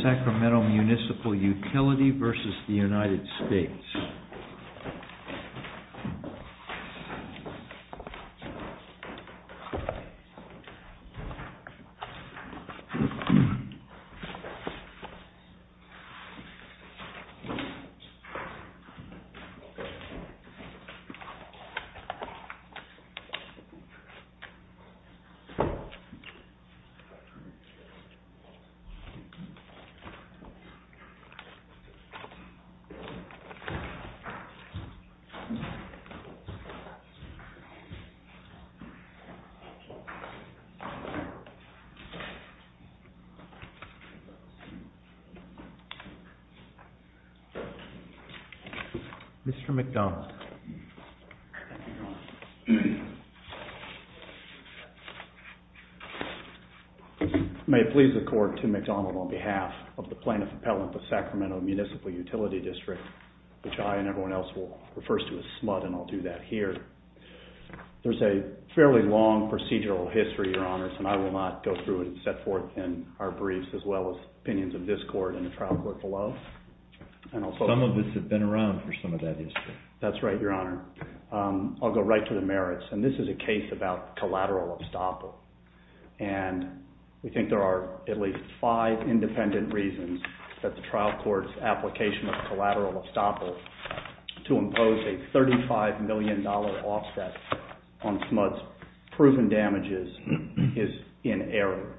Sacramento Municipal Utility v. United States Mr. McDonald. May it please the court, Tim McDonald on behalf of the plaintiff appellant, the Sacramento Municipal Utility District, which I and everyone else will refer to as SMUD, and I'll do that here. There's a fairly long procedural history, your honors, and I will not go through and set forth in our briefs as well as opinions of this court and the trial court below, and I'll focus- Some of this has been around for some of that history. That's right, your honor. I'll go right to the merits, and this is a case about collateral estoppel, and we think there are at least five independent reasons that the trial court's application of collateral estoppel to impose a $35 million offset on SMUD's proven damages is in error.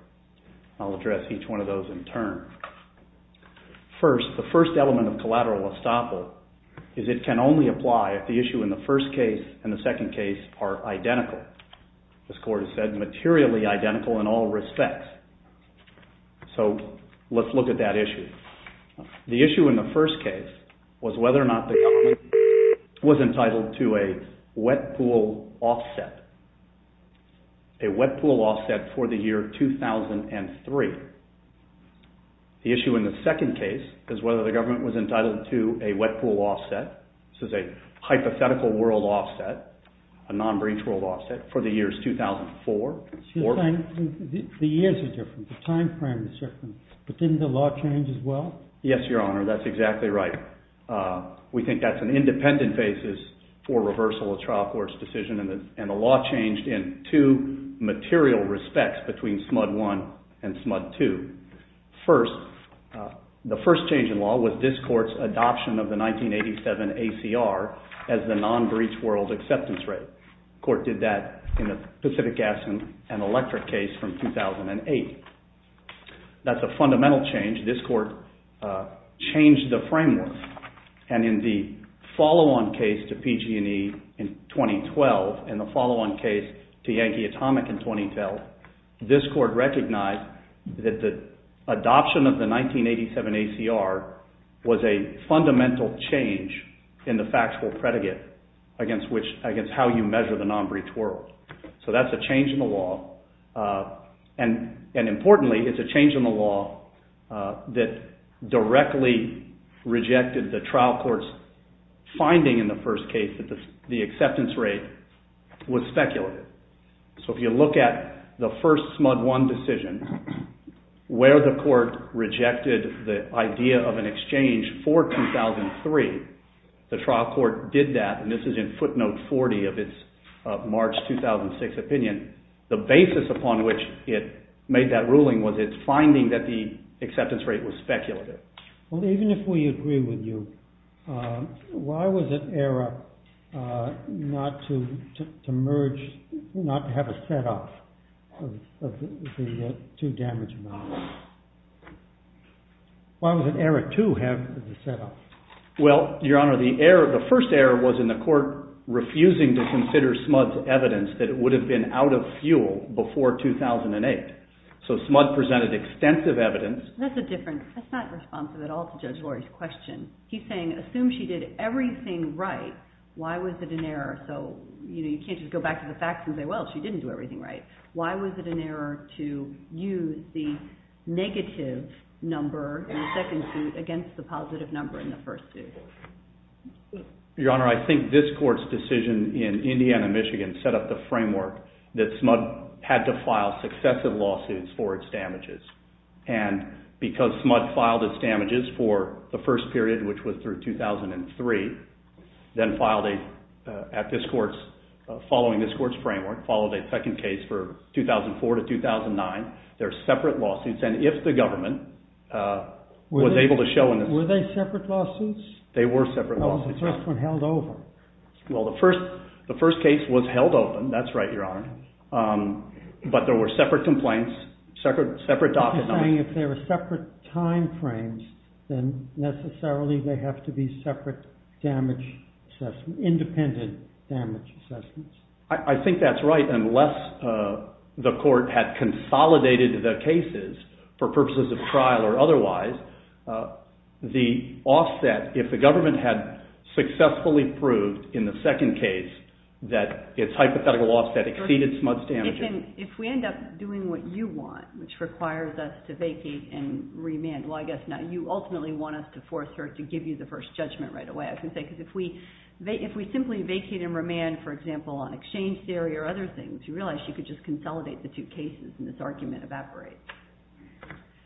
I'll address each one of those in turn. First, the first element of collateral estoppel is it can only apply if the issue in the first case and the second case are identical. This court has said materially identical in all respects, so let's look at that issue. The issue in the first case was whether or not the government was entitled to a wet pool offset, a wet pool offset for the year 2003. The issue in the second case is whether the government was entitled to a wet pool offset, this is a hypothetical world offset, a wet pool offset for the years 2004. The years are different, the time frame is different, but didn't the law change as well? Yes, your honor, that's exactly right. We think that's an independent basis for reversal of trial court's decision, and the law changed in two material respects between SMUD 1 and SMUD 2. First, the first change in law was this court's adoption of the 1987 ACR as the non-breach world acceptance rate. The court did that in the Pacific Gas and Electric case from 2008. That's a fundamental change, this court changed the framework. And in the follow-on case to PG&E in 2012, and the follow-on case to Yankee Atomic in 2012, this court recognized that the adoption of the 1987 ACR was a fundamental change in the factual predicate against how you measure the non-breach world. So that's a change in the law, and importantly, it's a change in the law that directly rejected the trial court's finding in the first case that the acceptance rate was speculative. So if you look at the first SMUD 1 decision, where the court rejected the idea of an exchange for 2003, the trial court did that, and this is in footnote 40 of its March 2006 opinion, the basis upon which it made that ruling was its finding that the acceptance rate was speculative. Well, even if we agree with you, why was it error not to merge, not to have a set-off of the two damage models? Why was it error to have the set-off? Well, Your Honor, the first error was in the court refusing to consider SMUD's evidence that it would have been out of fuel before 2008. So SMUD presented extensive evidence. That's a different, that's not responsive at all to Judge Lori's question. He's saying, assume she did everything right, why was it an error? So, you know, you can't just go back to the facts and say, well, she didn't do everything right. Why was it an error to use the negative number in the second suit against the positive number in the first suit? Your Honor, I think this court's decision in Indiana, Michigan set up the framework that SMUD had to file successive lawsuits for its damages, and because SMUD filed its damages for the first period, which was through 2003, then filed a, at this court's, following this court's framework, followed a second case for 2004 to 2009. They're separate lawsuits, and if the government was able to show in this. Were they separate lawsuits? They were separate lawsuits. The first one held over. Well, the first case was held open, that's right, Your Honor. But there were separate complaints, separate documents. He's saying if they were separate time frames, then necessarily they have to be separate damage assessments, independent damage assessments. I think that's right, unless the court had consolidated the cases for purposes of trial or otherwise, the offset, if the government had successfully proved in the second case that its hypothetical offset exceeded SMUD's damages. If we end up doing what you want, which requires us to vacate and remand, well, I guess now you ultimately want us to force her to give you the first judgment right away, because if we simply vacate and remand, for example, on exchange theory or other things, you realize she could just consolidate the two cases and this argument evaporates.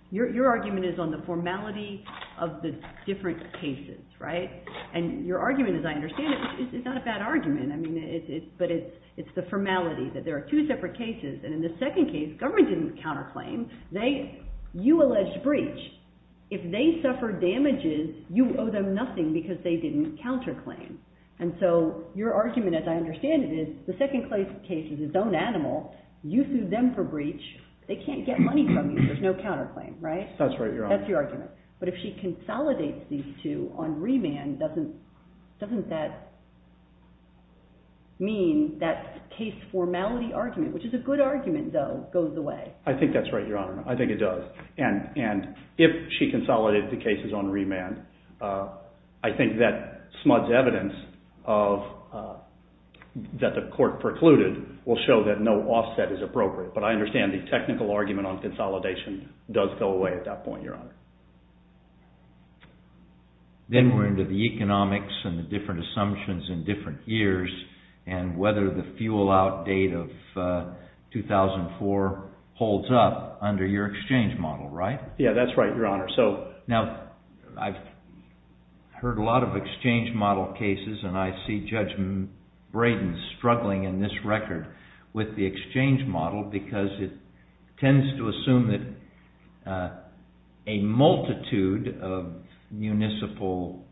Your argument is on the formality of the different cases, right? And your argument, as I understand it, is not a bad argument. I mean, it's, but it's the formality that there are two separate cases, and in the second case, government didn't counterclaim. They, you alleged breach. If they suffer damages, you owe them nothing because they didn't counterclaim. And so your argument, as I understand it, is the second case is its own animal. You sued them for breach. They can't get money from you. There's no counterclaim, right? That's right, Your Honor. That's your argument. But if she consolidates these two on remand, doesn't that mean that case formality argument, which is a good argument, though, goes away? I think that's right, Your Honor. I think it does. And if she consolidated the cases on remand, I think that smudged evidence of that the court precluded will show that no offset is appropriate. But I understand the technical argument on consolidation does go away at that point, Your Honor. Then we're into the economics and the different assumptions in different years and whether the fuel out date of 2004 holds up under your exchange model, right? Yeah, that's right, Your Honor. So now I've heard a lot of exchange model cases, and I see Judge Braden struggling in this record with the exchange model because it tends to assume that a multitude of municipal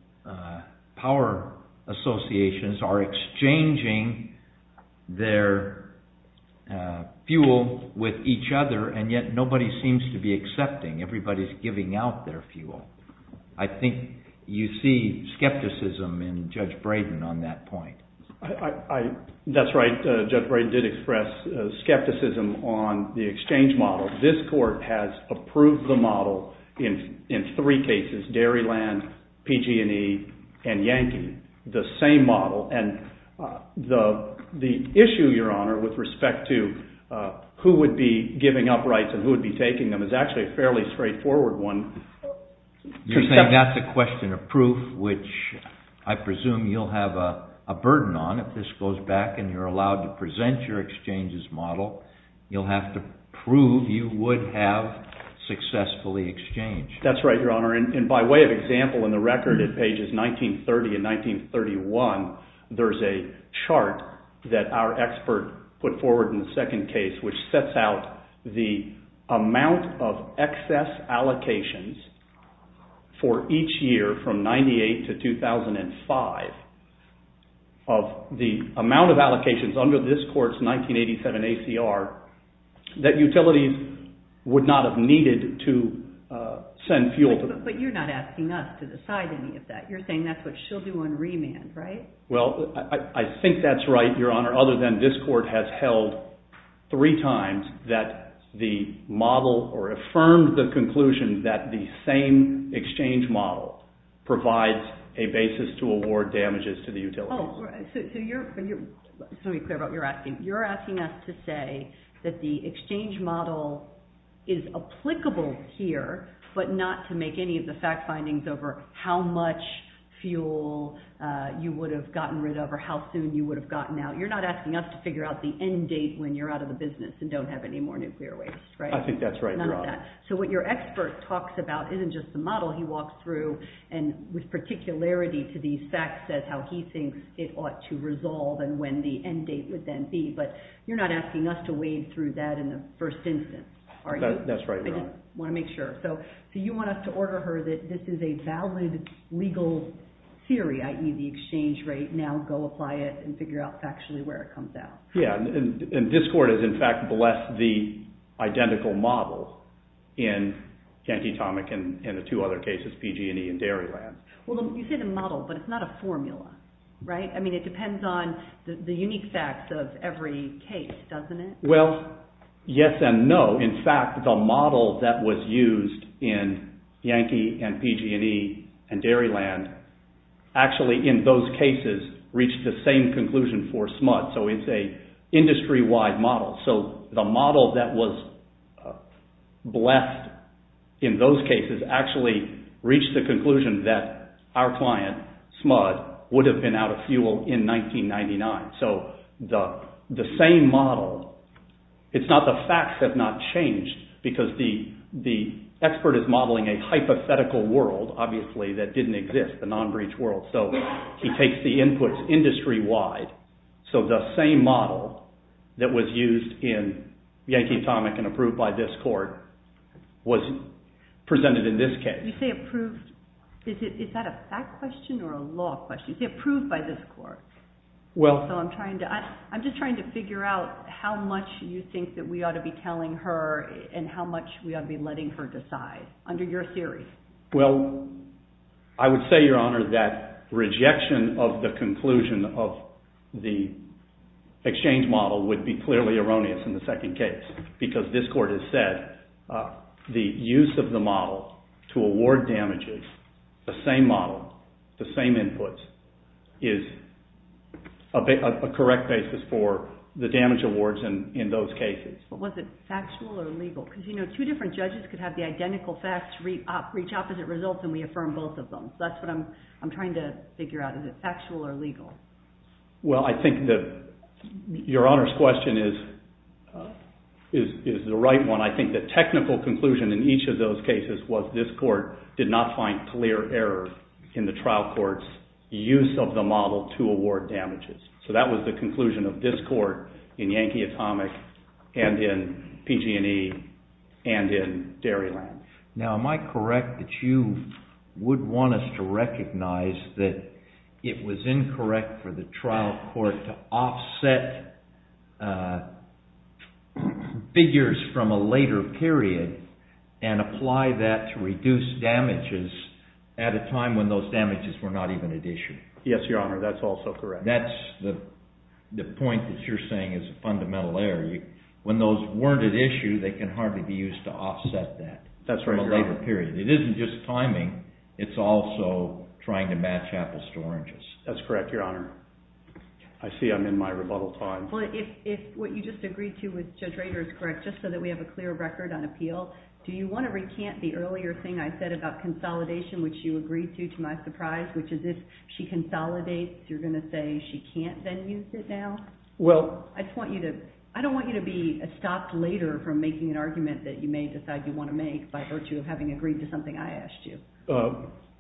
power associations are exchanging their fuel with each other, and yet nobody seems to be accepting. Everybody's giving out their fuel. I think you see skepticism in Judge Braden on that point. That's right. Judge Braden did express skepticism on the exchange model. This court has approved the model in three cases, Dairyland, PG&E, and Yankee, the same model, and the issue, Your Honor, with respect to who would be giving up rights and who would be taking them is actually a fairly straightforward one. You're saying that's a question of proof, which I presume you'll have a burden on if this goes back and you're allowed to present your exchange's model. You'll have to prove you would have successfully exchanged. That's right, Your Honor, and by way of example in the record at pages 1930 and 1931, there's a chart that our expert put forward in the second case which sets out the amount of excess allocations for each year from 98 to 2005 of the amount of allocations under this court's 1987 ACR that utilities would not have needed to send fuel to. But you're not asking us to decide any of that. You're saying that's what she'll do on remand, right? Well, I think that's right, Your Honor, other than this court has held three times that the model or affirmed the conclusion that the same exchange model provides a basis to award damages to the utilities. Oh, so let me be clear about what you're asking. You're asking us to say that the exchange model is applicable here, but not to make any of the fact findings over how much fuel you would have gotten rid of or how soon you would have gotten out. You're not asking us to figure out the end date when you're out of the business and don't have any more nuclear waste, right? I think that's right, Your Honor. None of that. So what your expert talks about isn't just the model. He walks through and with particularity to these facts says how he thinks it ought to resolve and when the end date would then be. But you're not asking us to wade through that in the first instance, are you? That's right, Your Honor. I just want to make sure. So you want us to order her that this is a valid legal theory, i.e. the exchange rate. Now go apply it and figure out factually where it comes out. Yeah, and this court has in fact blessed the identical model in Yankee Atomic and the two other cases, PG&E and Dairyland. Well, you say the model, but it's not a formula, right? I mean, it depends on the unique facts of every case, doesn't it? Well, yes and no. In fact, the model that was used in Yankee and PG&E and Dairyland actually in those cases reached the same conclusion for SMUD. So it's a industry-wide model. So the model that was blessed in those cases actually reached the conclusion that our client, SMUD, would have been out of fuel in 1999. So the same model, it's not the facts have not changed because the expert is modeling a hypothetical world, obviously, that didn't exist, the non-breach world. So he takes the inputs industry-wide. So the same model that was used in Yankee Atomic and approved by this court was presented in this case. You say approved, is that a fact question or a law question? You say approved by this court. Well. So I'm trying to, I'm just trying to figure out how much you think that we ought to be telling her and how much we ought to be letting her decide under your theory. Well, I would say, Your Honor, that rejection of the conclusion of the exchange model would be clearly erroneous in the second case because this court has said the use of the model to award damages, the same model, the same inputs, is a correct basis for the damage awards in those cases. But was it factual or legal? Because, you know, two different judges could have the identical facts, reach opposite results, and we affirm both of them. So that's what I'm trying to figure out. Is it factual or legal? Well, I think that Your Honor's question is the right one. I think the technical conclusion in each of those cases was this court did not find clear error in the trial court's use of the model to award damages. So that was the conclusion of this court in Yankee Atomic and in PG&E and in Dairyland. Now, am I correct that you would want us to recognize that it was incorrect for the trial court to offset figures from a later period and apply that to reduce damages at a time when those damages were not even at issue? Yes, Your Honor, that's also correct. That's the point that you're saying is a fundamental error. When those weren't at issue, they can hardly be used to offset that from a later period. It isn't just timing. It's also trying to match apples to oranges. That's correct, Your Honor. I see I'm in my rebuttal time. Well, if what you just agreed to with Judge Rader is correct, just so that we have a clear record on appeal, do you want to recant the earlier thing I said about consolidation, which you agreed to, to my surprise, which is if she consolidates, you're going to say she can't then use it now? Well, I just want you to, I don't want you to be stopped later from making an argument that you may decide you want to make by virtue of having agreed to something I asked you.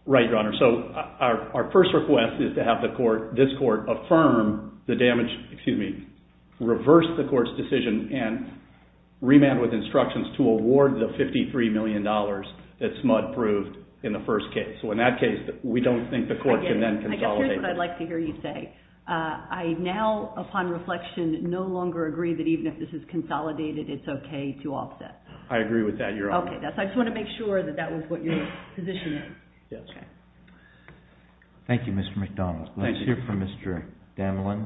Right, Your Honor. So our first request is to have the court, this court, affirm the damage, excuse me, reverse the court's decision and remand with instructions to award the $53 million that SMUD proved in the first case. So in that case, we don't think the court can then consolidate it. Again, here's what I'd like to hear you say. I now, upon reflection, no longer agree that even if this is consolidated, it's okay to offset. I agree with that, Your Honor. Okay, that's, I just want to make sure that that was what you're positioning. Yes. Okay. Thank you, Mr. McDonald. Let's hear from Mr. Damlen.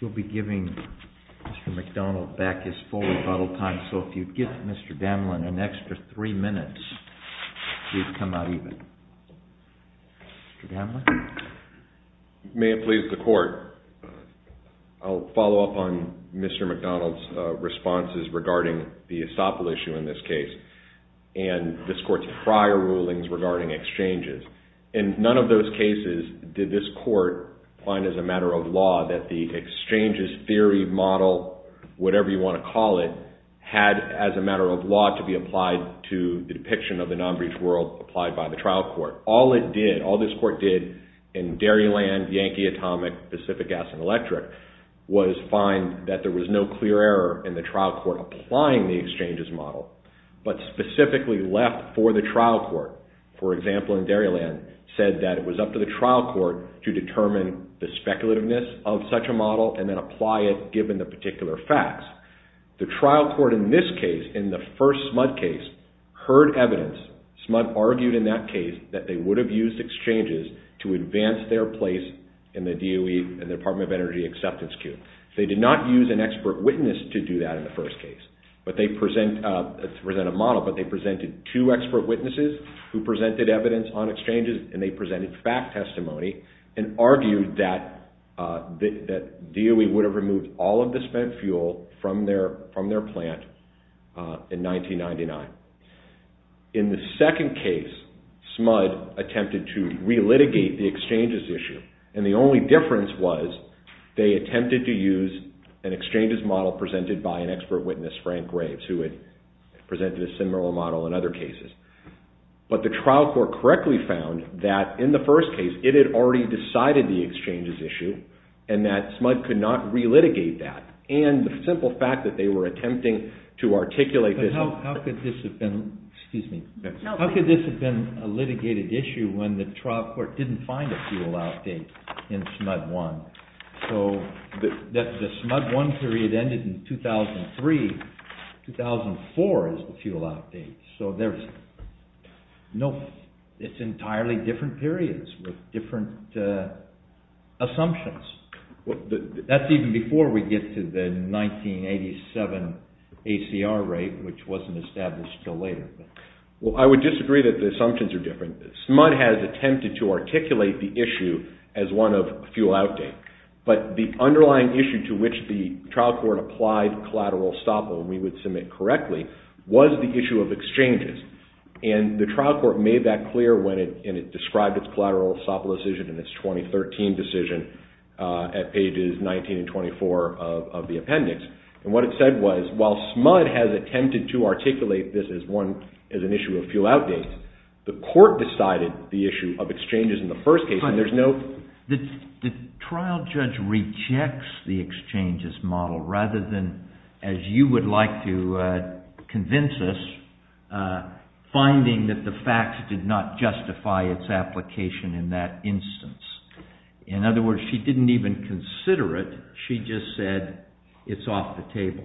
You'll be giving Mr. McDonald back his full rebuttal time. So if you'd give Mr. Damlen an extra three minutes, he'd come out even. Mr. Damlen? May it please the court, I'll follow up on Mr. McDonald's responses regarding the ESOPL issue in this case and this court's prior rulings regarding exchanges. In none of those cases did this court find as a matter of law that the exchanges theory model, whatever you want to call it, had as a matter of law to be applied to the depiction of the non-breach world applied by the trial court. All it did, all this court did in Dairyland, Yankee, Atomic, Pacific Gas, and Electric was find that there was no clear error in the trial court applying the exchanges model, but specifically left for the trial court. For example, in Dairyland, said that it was up to the trial court to determine the speculativeness of such a model and then apply it given the particular facts. The trial court in this case, in the first SMUD case, heard evidence. SMUD argued in that case that they would have used exchanges to advance their place in the DOE, in the Department of Energy acceptance queue. They did not use an expert witness to do that in the first case, but they present a model, but they presented two expert witnesses who presented evidence on exchanges and they presented fact testimony and argued that DOE would have removed all of the spent fuel from their plant in 1999. In the second case, SMUD attempted to relitigate the exchanges issue and the only difference was they attempted to use an exchanges model presented by an expert witness, Frank Graves, who had presented a similar model in other cases. But the trial court correctly found that in the first case, it had already decided the exchanges issue and that SMUD could not relitigate that. And the simple fact that they were attempting to articulate this... But how could this have been, excuse me, how could this have been a litigated issue when the trial court didn't find a fuel outdate in SMUD 1? So the SMUD 1 period ended in 2003, 2004 is the fuel outdate. So there's no...it's entirely different periods with different assumptions. That's even before we get to the 1987 ACR rate, which wasn't established until later. Well, I would disagree that the assumptions are different. SMUD has attempted to articulate the issue as one of fuel outdate, but the underlying issue to which the trial court applied collateral estoppel, we would submit correctly, was the issue of exchanges. And the trial court made that clear when it described its collateral estoppel decision in its 2013 decision at pages 19 and 24 of the appendix. And what it said was, while SMUD has attempted to articulate this as one, as an issue of fuel outdate, the court decided the issue of exchanges in the first case. And there's no... convince us, finding that the facts did not justify its application in that instance. In other words, she didn't even consider it, she just said, it's off the table.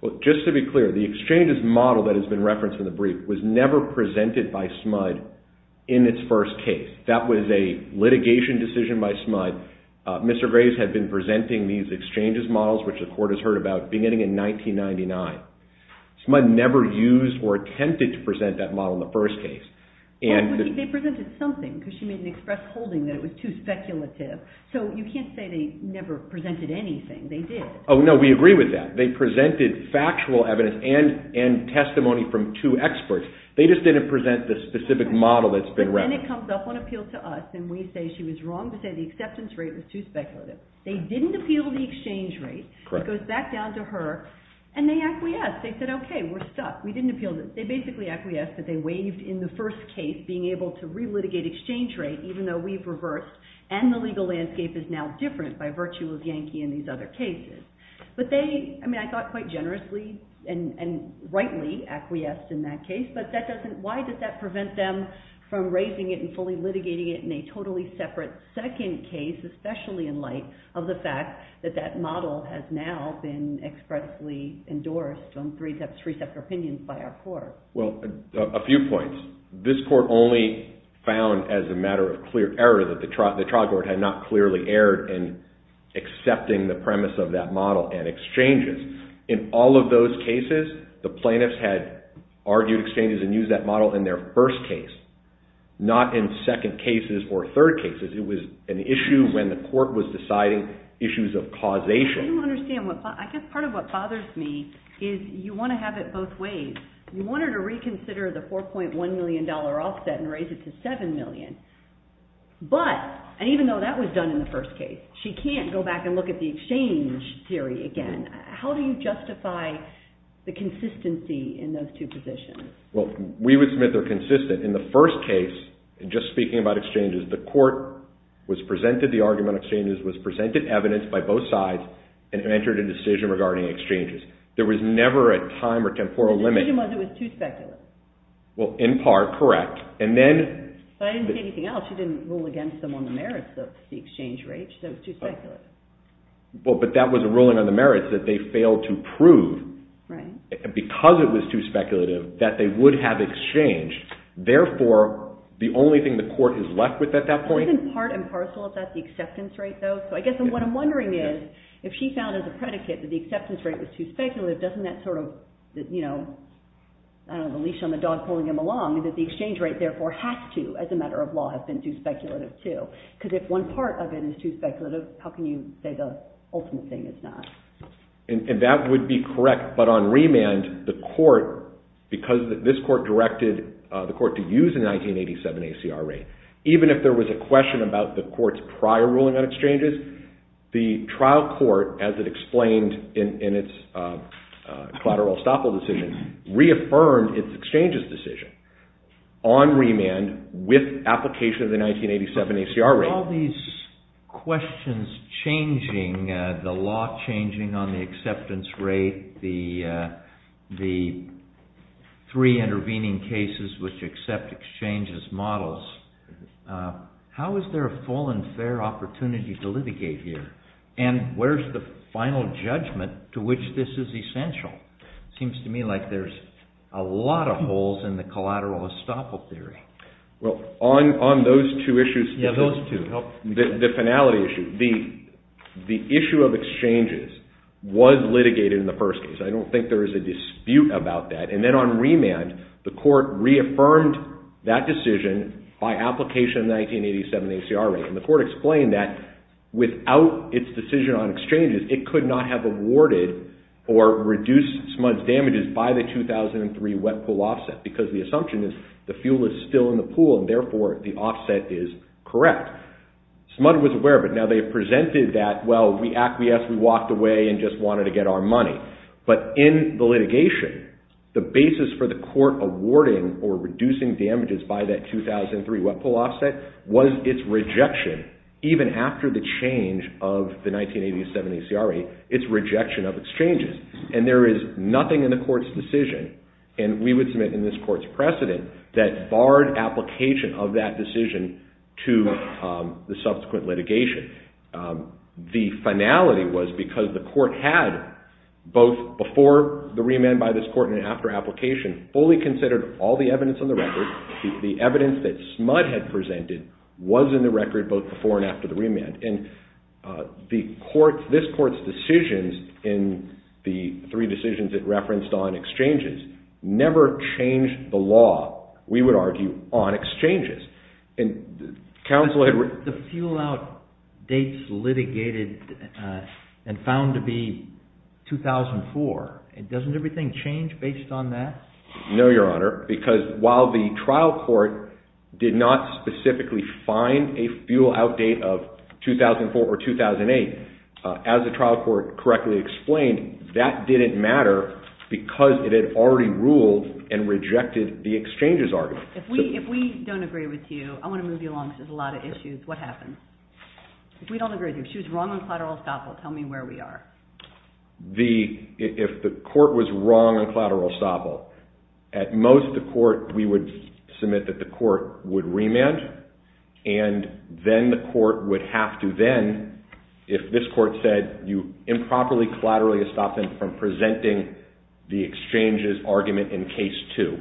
Well, just to be clear, the exchanges model that has been referenced in the brief was never presented by SMUD in its first case. That was a litigation decision by SMUD. Mr. Graves had been presenting these exchanges models, which the court has heard about, beginning in 1999. SMUD never used or attempted to present that model in the first case. They presented something, because she made an express holding that it was too speculative. So you can't say they never presented anything, they did. Oh, no, we agree with that. They presented factual evidence and testimony from two experts. They just didn't present the specific model that's been referenced. But then it comes up on appeal to us, and we say she was wrong to say the acceptance rate was too speculative. They didn't appeal the exchange rate, it goes back down to her, and they acquiesced. They said, okay, we're stuck. We didn't appeal it. They basically acquiesced that they waived in the first case, being able to re-litigate exchange rate, even though we've reversed, and the legal landscape is now different by virtue of Yankee and these other cases. But they, I mean, I thought quite generously and rightly acquiesced in that case, but that doesn't, why did that prevent them from raising it and fully litigating it in a totally separate second case, especially in light of the fact that that model has now been expressly endorsed on three separate opinions by our court? Well, a few points. This court only found, as a matter of clear error, that the trial court had not clearly erred in accepting the premise of that model and exchanges. In all of those cases, the plaintiffs had argued exchanges and used that model in their first case, not in second cases or third cases. It was an issue when the court was deciding issues of causation. I don't understand. I guess part of what bothers me is you want to have it both ways. You want her to reconsider the $4.1 million offset and raise it to $7 million. But, and even though that was done in the first case, she can't go back and look at the exchange theory again. How do you justify the consistency in those two positions? Well, we would submit they're consistent. In the first case, just speaking about exchanges, the court was presented the argument of exchanges, was presented evidence by both sides, and entered a decision regarding exchanges. There was never a time or temporal limit. The decision was it was too speculative. Well, in part, correct. And then... But I didn't see anything else. She didn't rule against them on the merits of the exchange rate. She said it was too speculative. Well, but that was a ruling on the merits that they failed to prove. Right. Because it was too speculative, that they would have exchanged. Therefore, the only thing the court is left with at that point... Isn't part and parcel of that the acceptance rate, though? So I guess what I'm wondering is, if she found as a predicate that the acceptance rate was too speculative, doesn't that sort of, you know, I don't know, the leash on the dog pulling him along, that the exchange rate therefore has to, as a matter of law, have been too speculative, too? Because if one part of it is too speculative, how can you say the ultimate thing is not? And that would be correct, but on remand, the court, because this court directed the court to use a 1987 ACR rate, even if there was a question about the court's prior ruling on exchanges, the trial court, as it explained in its collateral estoppel decision, reaffirmed its exchanges decision on remand with application of the 1987 ACR rate. With all these questions changing, the law changing on the acceptance rate, the three intervening cases which accept exchange as models, how is there a full and fair opportunity to litigate here? And where's the final judgment to which this is essential? It seems to me like there's a lot of holes in the collateral estoppel theory. Well, on those two issues, the finality issue, the issue of exchanges was litigated in the first case. I don't think there is a dispute about that. And then on remand, the court reaffirmed that decision by application of the 1987 ACR rate. And the court explained that without its decision on exchanges, it could not have awarded or reduced smudge damages by the 2003 wet pool offset, because the assumption is the fuel is still in the pool, and therefore the offset is correct. Smudge was aware of it. Now, they presented that, well, we acquiesced, we walked away and just wanted to get our money. But in the litigation, the basis for the court awarding or reducing damages by that 2003 wet pool offset was its rejection, even after the change of the 1987 ACR rate, its rejection of exchanges. And there is nothing in the court's decision, and we would submit in this court's precedent, that barred application of that decision to the subsequent litigation. The finality was because the court had, both before the remand by this court and after application, fully considered all the evidence on the record. The evidence that smudge had presented was in the record both before and after the remand. And this court's decisions in the three decisions it referenced on exchanges never changed the law, we would argue, on exchanges. And counsel had... But the fuel out dates litigated and found to be 2004, doesn't everything change based on that? No, Your Honor, because while the trial court did not specifically find a fuel out date of 2004 or 2008, as the trial court correctly explained, that didn't matter because it had already ruled and rejected the exchanges argument. If we don't agree with you, I want to move you along because there's a lot of issues, what happens? If we don't agree with you, if she was wrong on collateral estoppel, tell me where we are. If the court was wrong on collateral estoppel, at most the court, we would submit that the court would remand, and then the court would have to then, if this court said you improperly collateral estoppel from presenting the exchanges argument in case two,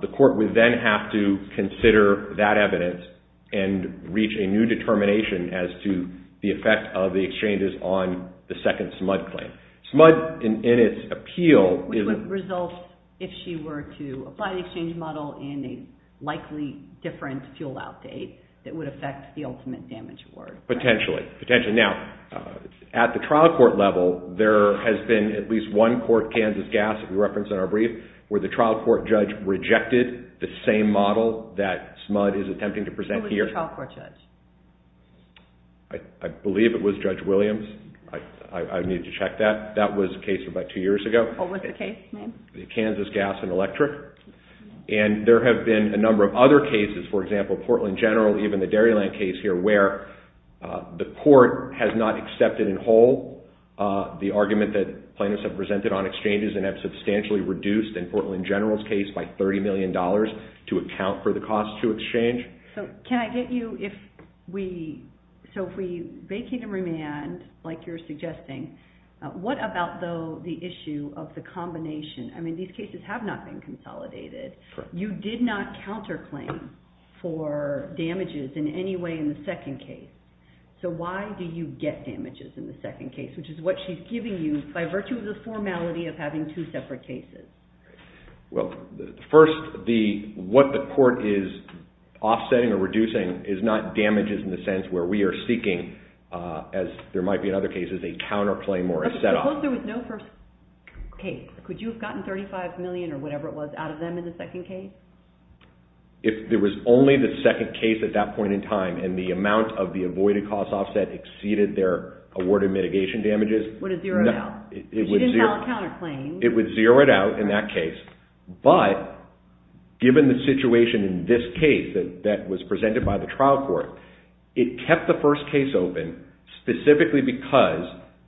the court would then have to consider that evidence and reach a new determination as to the effect of the exchanges on the second SMUD claim. SMUD in its appeal... Which would result if she were to apply the exchange model in a likely different fuel out date that would affect the ultimate damage award. Potentially, potentially. Now, at the trial court level, there has been at least one court, Kansas Gas, that we referenced in our brief, where the trial court judge rejected the same model that SMUD is attempting to present here. Who was the trial court judge? I believe it was Judge Williams. I need to check that. That was a case about two years ago. What was the case, ma'am? Kansas Gas and Electric. And there have been a number of other cases, for example, Portland General, even the Dairyland case here, where the court has not accepted in whole the argument that plaintiffs have presented on exchanges and have substantially reduced, in Portland General's case, by $30 million to account for the cost to exchange. So, can I get you, if we... So, if we vacate and remand, like you're suggesting, what about, though, the issue of the combination? I mean, these cases have not been consolidated. You did not counterclaim for damages in any way in the second case. So, why do you get damages in the second case, which is what she's giving you, by virtue of the formality of having two separate cases? Well, first, what the court is offsetting or reducing is not damages in the sense where we are seeking, as there might be in other cases, a counterclaim or a set-off. But suppose there was no first case. Could you have gotten $35 million or whatever it was out of them in the second case? If there was only the second case at that point in time and the amount of the avoided cost offset exceeded their awarded mitigation damages... Would it zero it out? If she didn't file a counterclaim... It would zero it out in that case. But, given the situation in this case that was presented by the trial court, it kept the first case open specifically because...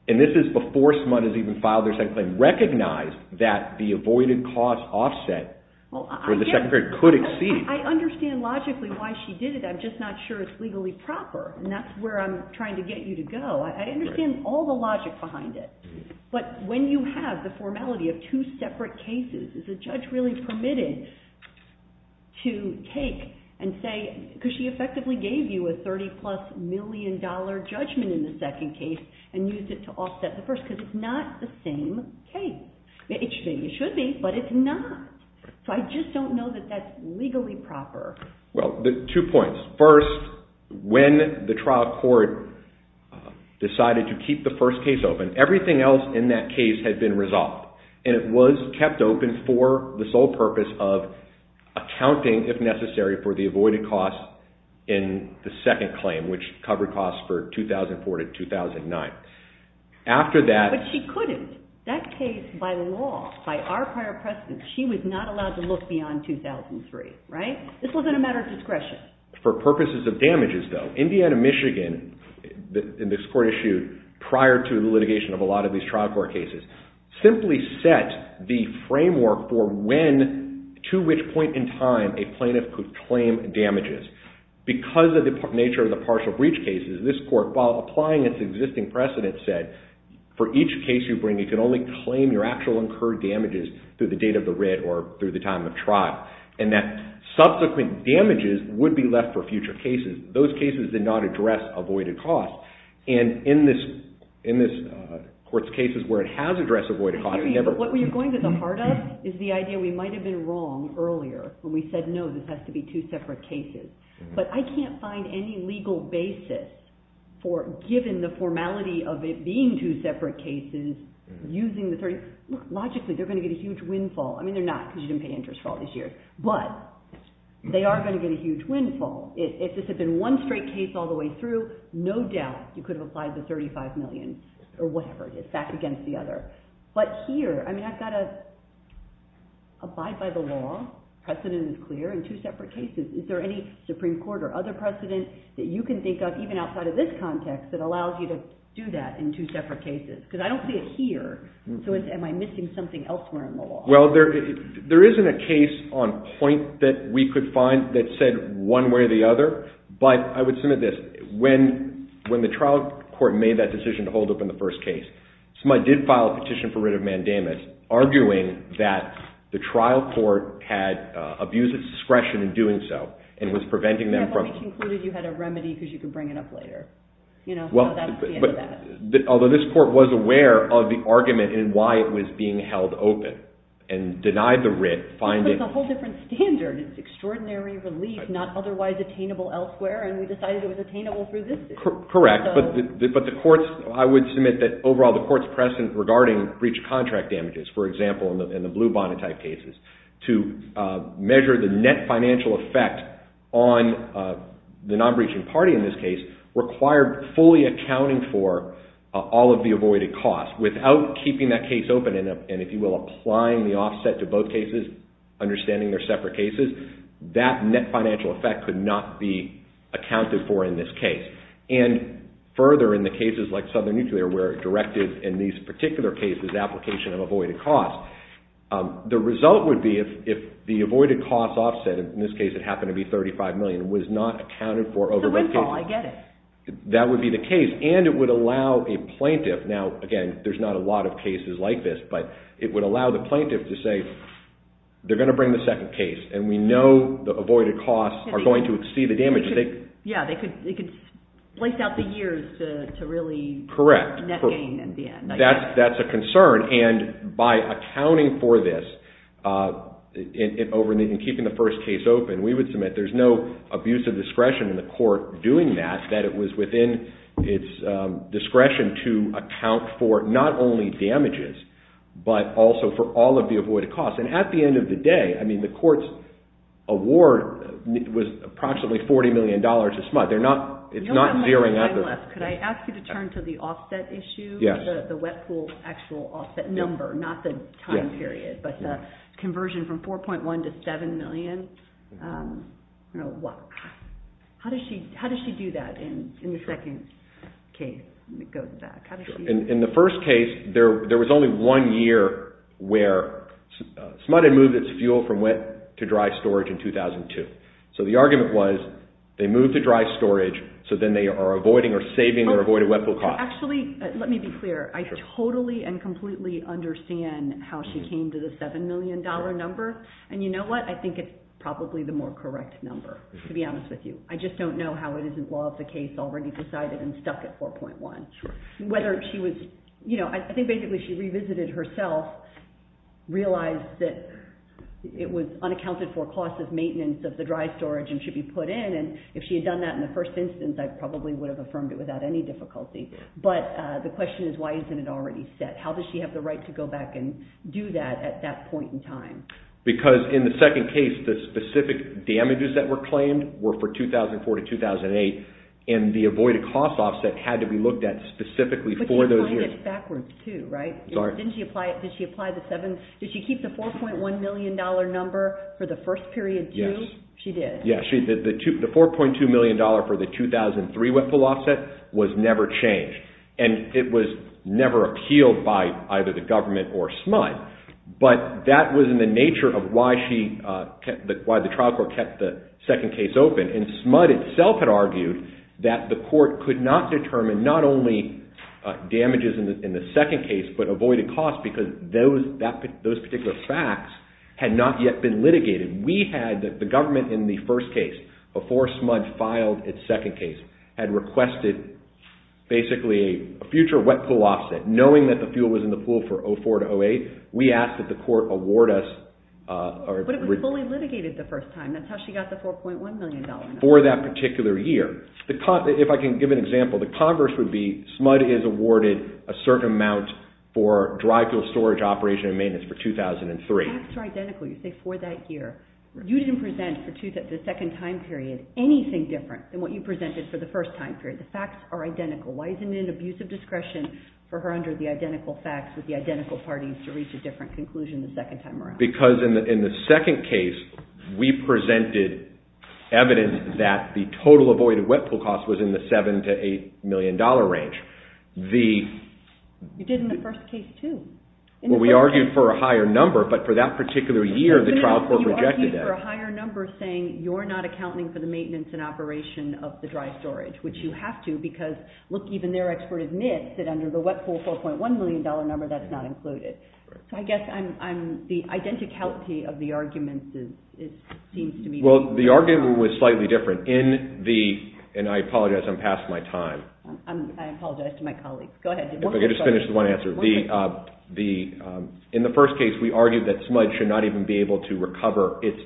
And this is before someone has even filed their second claim. ...and recognized that the avoided cost offset for the second case could exceed... I understand logically why she did it. I'm just not sure it's legally proper. And that's where I'm trying to get you to go. I understand all the logic behind it. But when you have the formality of two separate cases, is the judge really permitted to take and say... Because she effectively gave you a $30-plus million judgment in the second case and used it to offset the first because it's not the same case. Maybe it should be, but it's not. So, I just don't know that that's legally proper. Well, two points. First, when the trial court decided to keep the first case open, everything else in that case had been resolved. And it was kept open for the sole purpose of accounting, if necessary, for the avoided cost in the second claim, which covered costs for 2004 to 2009. After that... But she couldn't. That case, by law, by our prior precedent, she was not allowed to look beyond 2003, right? This wasn't a matter of discretion. For purposes of damages, though, Indiana, Michigan, in this court issue, prior to the litigation of a lot of these trial court cases, simply set the framework for when, to which point in time, a plaintiff could claim damages. Because of the nature of the partial breach cases, this court, while applying its existing precedent, said, for each case you bring, you can only claim your actual incurred damages through the date of the writ or through the time of trial. And that subsequent damages would be left for future cases. Those cases did not address avoided costs. And in this court's cases where it has addressed avoided costs, it never... What you're going to the heart of is the idea we might have been wrong earlier when we said, no, this has to be two separate cases. But I can't find any legal basis for, given the formality of it being two separate cases, using the 30... Logically, they're going to get a huge windfall. I mean, they're not, because you didn't pay interest for all these years. But they are going to get a huge windfall. If this had been one straight case all the way through, no doubt you could have applied the $35 million or whatever it is, back against the other. But here, I mean, I've got to abide by the law. Precedent is clear in two separate cases. Is there any Supreme Court or other precedent that you can think of, even outside of this context, that allows you to do that in two separate cases? Because I don't see it here. So am I missing something elsewhere in the law? Well, there isn't a case on point that we could find that said one way or the other. But I would submit this. When the trial court made that decision to hold open the first case, somebody did file a petition for writ of mandamus arguing that the trial court had abused its discretion in doing so, and was preventing them from- Yeah, but we concluded you had a remedy because you could bring it up later. You know, but that's the end of that. Although this court was aware of the argument in why it was being held open, and denied the writ, finding- But it's a whole different standard. It's extraordinary relief, not otherwise attainable elsewhere, and we decided it was attainable through this. Correct. But the courts, I would submit that overall, the courts present regarding breach of contract damages, for example, in the Blue Bonnet type cases, to measure the net financial effect on the non-breaching party in this case, required fully accounting for all of the avoided costs without keeping that case open, and if you will, applying the offset to both cases, understanding they're separate cases. That net financial effect could not be accounted for in this case. And further, in the cases like Southern Nuclear, where it directed, in these particular cases, application of avoided costs, the result would be if the avoided costs offset, in this case it happened to be $35 million, was not accounted for over both cases. It's a windfall, I get it. That would be the case, and it would allow a plaintiff, now, again, there's not a lot of cases like this, but it would allow the plaintiff to say, they're going to bring the second case, and we know the avoided costs are going to exceed the damages. Yeah, they could place out the years to really- Correct. Net gain in the end. That's a concern, and by accounting for this, in keeping the first case open, we would submit, there's no abuse of discretion in the court doing that, that it was within its discretion to account for, not only damages, but also for all of the avoided costs. And at the end of the day, I mean, the court's award was approximately $40 million this month. They're not, it's not zeroing out the- Could I ask you to turn to the offset issue? Yes. The wet pool actual offset number, not the time period, but the conversion from $4.1 to $7 million. How does she do that in the second case? Let me go back. In the first case, there was only one year where SMUD had moved its fuel from wet to dry storage in 2002. So the argument was, they moved to dry storage, so then they are avoiding or saving their avoided wet pool costs. Actually, let me be clear. I totally and completely understand how she came to the $7 million number, and you know what? I think it's probably the more correct number, to be honest with you. I just don't know how it isn't law of the case, already decided and stuck at 4.1. Whether she was, you know, I think basically she revisited herself, realized that it was unaccounted for cost of maintenance of the dry storage and should be put in, and if she had done that in the first instance, I probably would have affirmed it without any difficulty. But the question is, why isn't it already set? How does she have the right to go back and do that at that point in time? Because in the second case, the specific damages that were claimed were for 2004 to 2008, and the avoided cost offset had to be looked at specifically for those years. But she applied it backwards, too, right? Didn't she apply it? Did she apply the 7? Did she keep the $4.1 million number for the first period, too? She did. Yeah, the $4.2 million for the 2003 wet pull offset was never changed. And it was never appealed by either the government or SMUD. But that was in the nature of why the trial court kept the second case open. And SMUD itself had argued that the court could not determine not only damages in the second case, but avoided cost because those particular facts had not yet been litigated. The government, in the first case, before SMUD filed its second case, had requested basically a future wet pull offset. Knowing that the fuel was in the pool for 2004 to 2008, we asked that the court award us. But it was fully litigated the first time. That's how she got the $4.1 million number. For that particular year. If I can give an example, the converse would be SMUD is awarded a certain amount for dry fuel storage operation and maintenance for 2003. That's identical. You say for that year. You didn't present for the second time period anything different than what you presented for the first time period. The facts are identical. Why isn't it an abuse of discretion for her under the identical facts with the identical parties to reach a different conclusion the second time around? Because in the second case, we presented evidence that the total avoided wet pull cost was in the $7 to $8 million range. You did in the first case, too. Well, we argued for a higher number. But for that particular year, the trial court rejected that. So you argued for a higher number saying you're not accounting for the maintenance and operation of the dry storage, which you have to. Because look, even their expert admits that under the wet pull $4.1 million number, that's not included. So I guess the identicality of the arguments seems to me to be different. Well, the argument was slightly different. And I apologize, I'm past my time. I apologize to my colleagues. Go ahead. Let me just finish with one answer. In the first case, we argued that SMUD should not even be able to recover its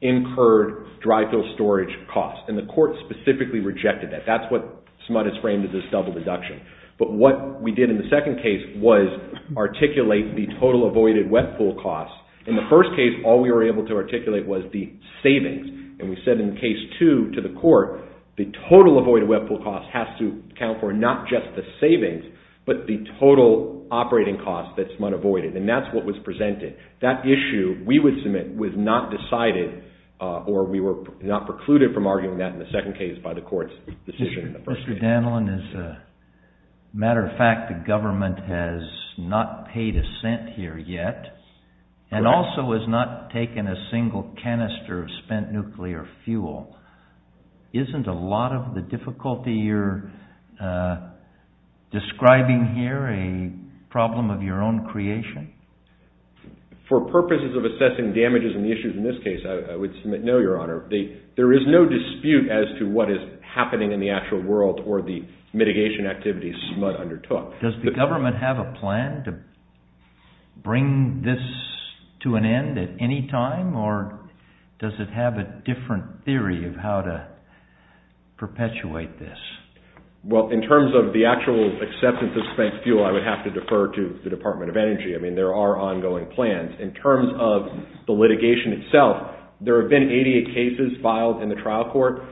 incurred dry fill storage costs. And the court specifically rejected that. That's what SMUD has framed as its double deduction. But what we did in the second case was articulate the total avoided wet pull cost. In the first case, all we were able to articulate was the savings. And we said in case two to the court, the total avoided wet pull cost has to account for not just the savings, but the total operating costs that SMUD avoided. And that's what was presented. That issue we would submit was not decided, or we were not precluded from arguing that in the second case by the court's decision in the first case. Mr. Danlin, as a matter of fact, the government has not paid a cent here yet. And also has not taken a single canister of spent nuclear fuel. Isn't a lot of the difficulty you're describing here a problem of your own creation? For purposes of assessing damages and the issues in this case, I would submit no, Your Honor. There is no dispute as to what is happening in the actual world or the mitigation activities SMUD undertook. Does the government have a plan to bring this to an end at any time? Or does it have a different theory of how to perpetuate this? Well, in terms of the actual acceptance of spent fuel, I would have to defer to the Department of Energy. I mean, there are ongoing plans. In terms of the litigation itself, there have been 88 cases filed in the trial court.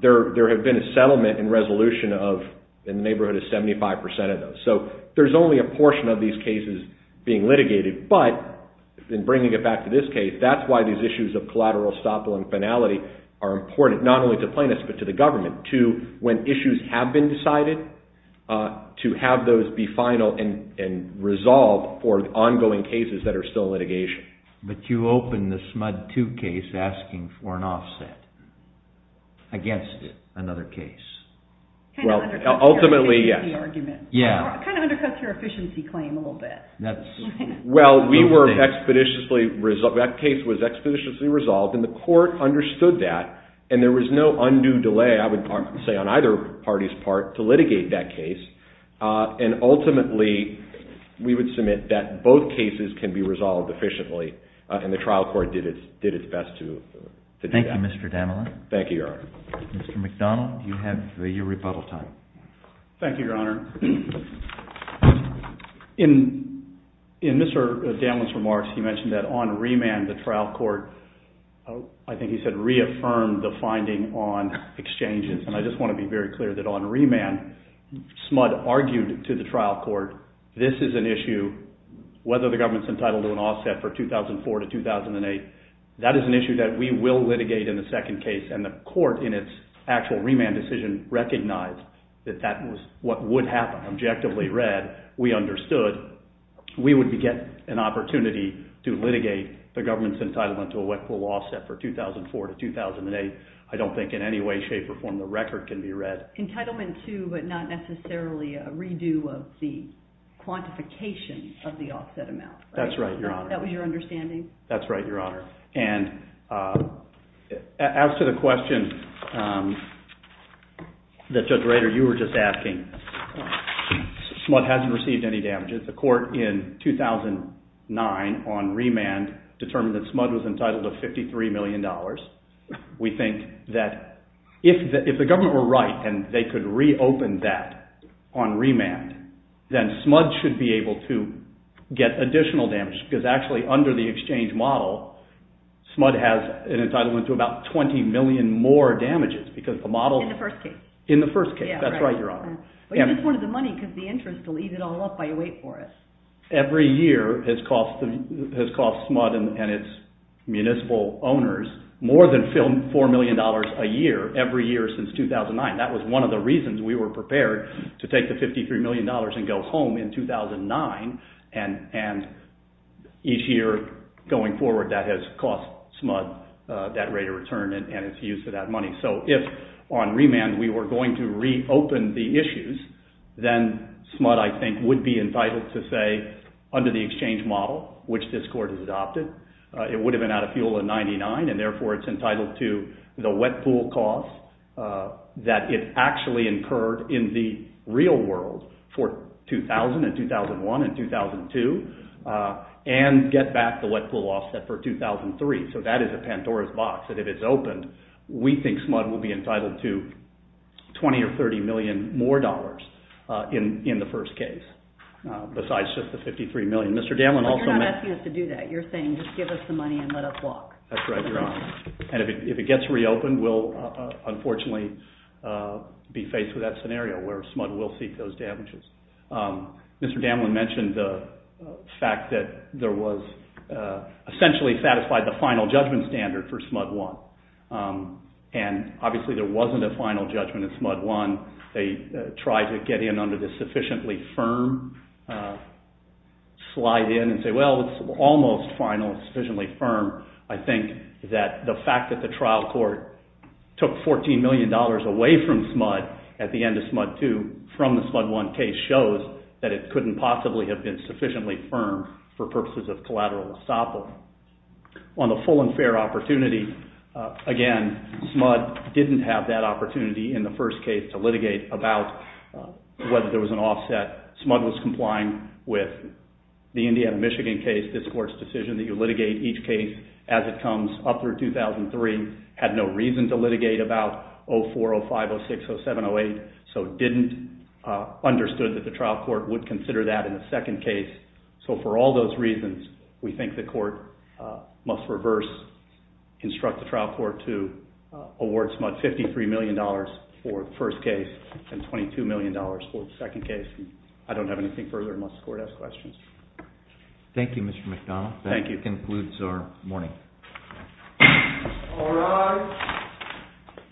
There have been a settlement and resolution of, in the neighborhood of 75% of those. So there's only a portion of these cases being litigated. But in bringing it back to this case, that's why these issues of collateral estoppel and finality are important, not only to plaintiffs, but to the government. To when issues have been decided, to have those be final and resolved for ongoing cases that are still litigation. But you open the SMUD 2 case asking for an offset against another case. Well, ultimately, yes. Kind of undercuts your efficiency claim a little bit. Well, we were expeditiously resolved. That case was expeditiously resolved. And the court understood that. And there was no undue delay, I would say, on either party's part to litigate that case. And ultimately, we would submit that both cases can be resolved efficiently. And the trial court did its best to do that. Thank you, Mr. Damlin. Thank you, Your Honor. Mr. McDonald, you have your rebuttal time. Thank you, Your Honor. In Mr. Damlin's remarks, he mentioned that on remand, the trial court, I think he said, reaffirmed the finding on exchanges. And I just want to be very clear that on remand, SMUD argued to the trial court, this is an issue, whether the government's entitled to an offset for 2004 to 2008, that is an issue that we will litigate in the second case. And the court, in its actual remand decision, recognized that that was what would happen. Objectively read, we understood we would get an opportunity to litigate the government's entitlement to a wet pool offset for 2004 to 2008. I don't think in any way, shape, or form the record can be read. Entitlement to, but not necessarily a redo of the quantification of the offset amount. That's right, Your Honor. That was your understanding? That's right, Your Honor. And as to the question that Judge Rader, you were just asking, SMUD hasn't received any damages. The court in 2009, on remand, determined that SMUD was entitled to $53 million. We think that if the government were right and they could reopen that on remand, then SMUD should be able to get additional damage. Because actually, under the exchange model, SMUD has an entitlement to about 20 million more damages. Because the model. In the first case. In the first case. That's right, Your Honor. Well, you missed one of the money, because the interest will eat it all up by the wait for us. Every year has cost SMUD and its municipal owners more than $4 million a year, every year since 2009. That was one of the reasons we were prepared to take the $53 million and go home in 2009. And each year going forward, that has cost SMUD that rate of return and its use of that money. So if, on remand, we were going to reopen the issues, then SMUD, I think, would be entitled to say, under the exchange model, which this court has adopted, it would have been out of fuel in 99. And therefore, it's entitled to the wet pool cost that it actually incurred in the real world for 2000, and 2001, and 2002, and get back the wet pool offset for 2003. So that is a Pandora's box. And if it's opened, we think SMUD will be entitled to $20 or $30 million more in the first case, besides just the $53 million. Mr. Damlen also mentioned- You're not asking us to do that. You're saying, just give us the money and let us walk. That's right, Your Honor. And if it gets reopened, we'll, unfortunately, be faced with that scenario, where SMUD will seek those damages. Mr. Damlen mentioned the fact that there was essentially satisfied the final judgment standard for SMUD 1. And obviously, there wasn't a final judgment in SMUD 1. They tried to get in under the sufficiently firm slide in and say, well, it's almost final, sufficiently firm. I think that the fact that the trial court took $14 million away from SMUD at the end of SMUD 2 from the SMUD 1 case shows that it couldn't possibly have been sufficiently firm for purposes of collateral estoppel. On the full and fair opportunity, again, SMUD didn't have that opportunity in the first case to litigate about whether there was an offset. SMUD was complying with the Indiana-Michigan case. This court's decision that you litigate each case as it comes up through 2003 had no reason to litigate about 0405060708. So it didn't understand that the trial court would consider that in the second case. So for all those reasons, we think the court must reverse, instruct the trial court to award SMUD $53 million for the first case and $22 million for the second case. And I don't have anything further unless the court has questions. Thank you, Mr. McDonald. Thank you. That concludes our morning.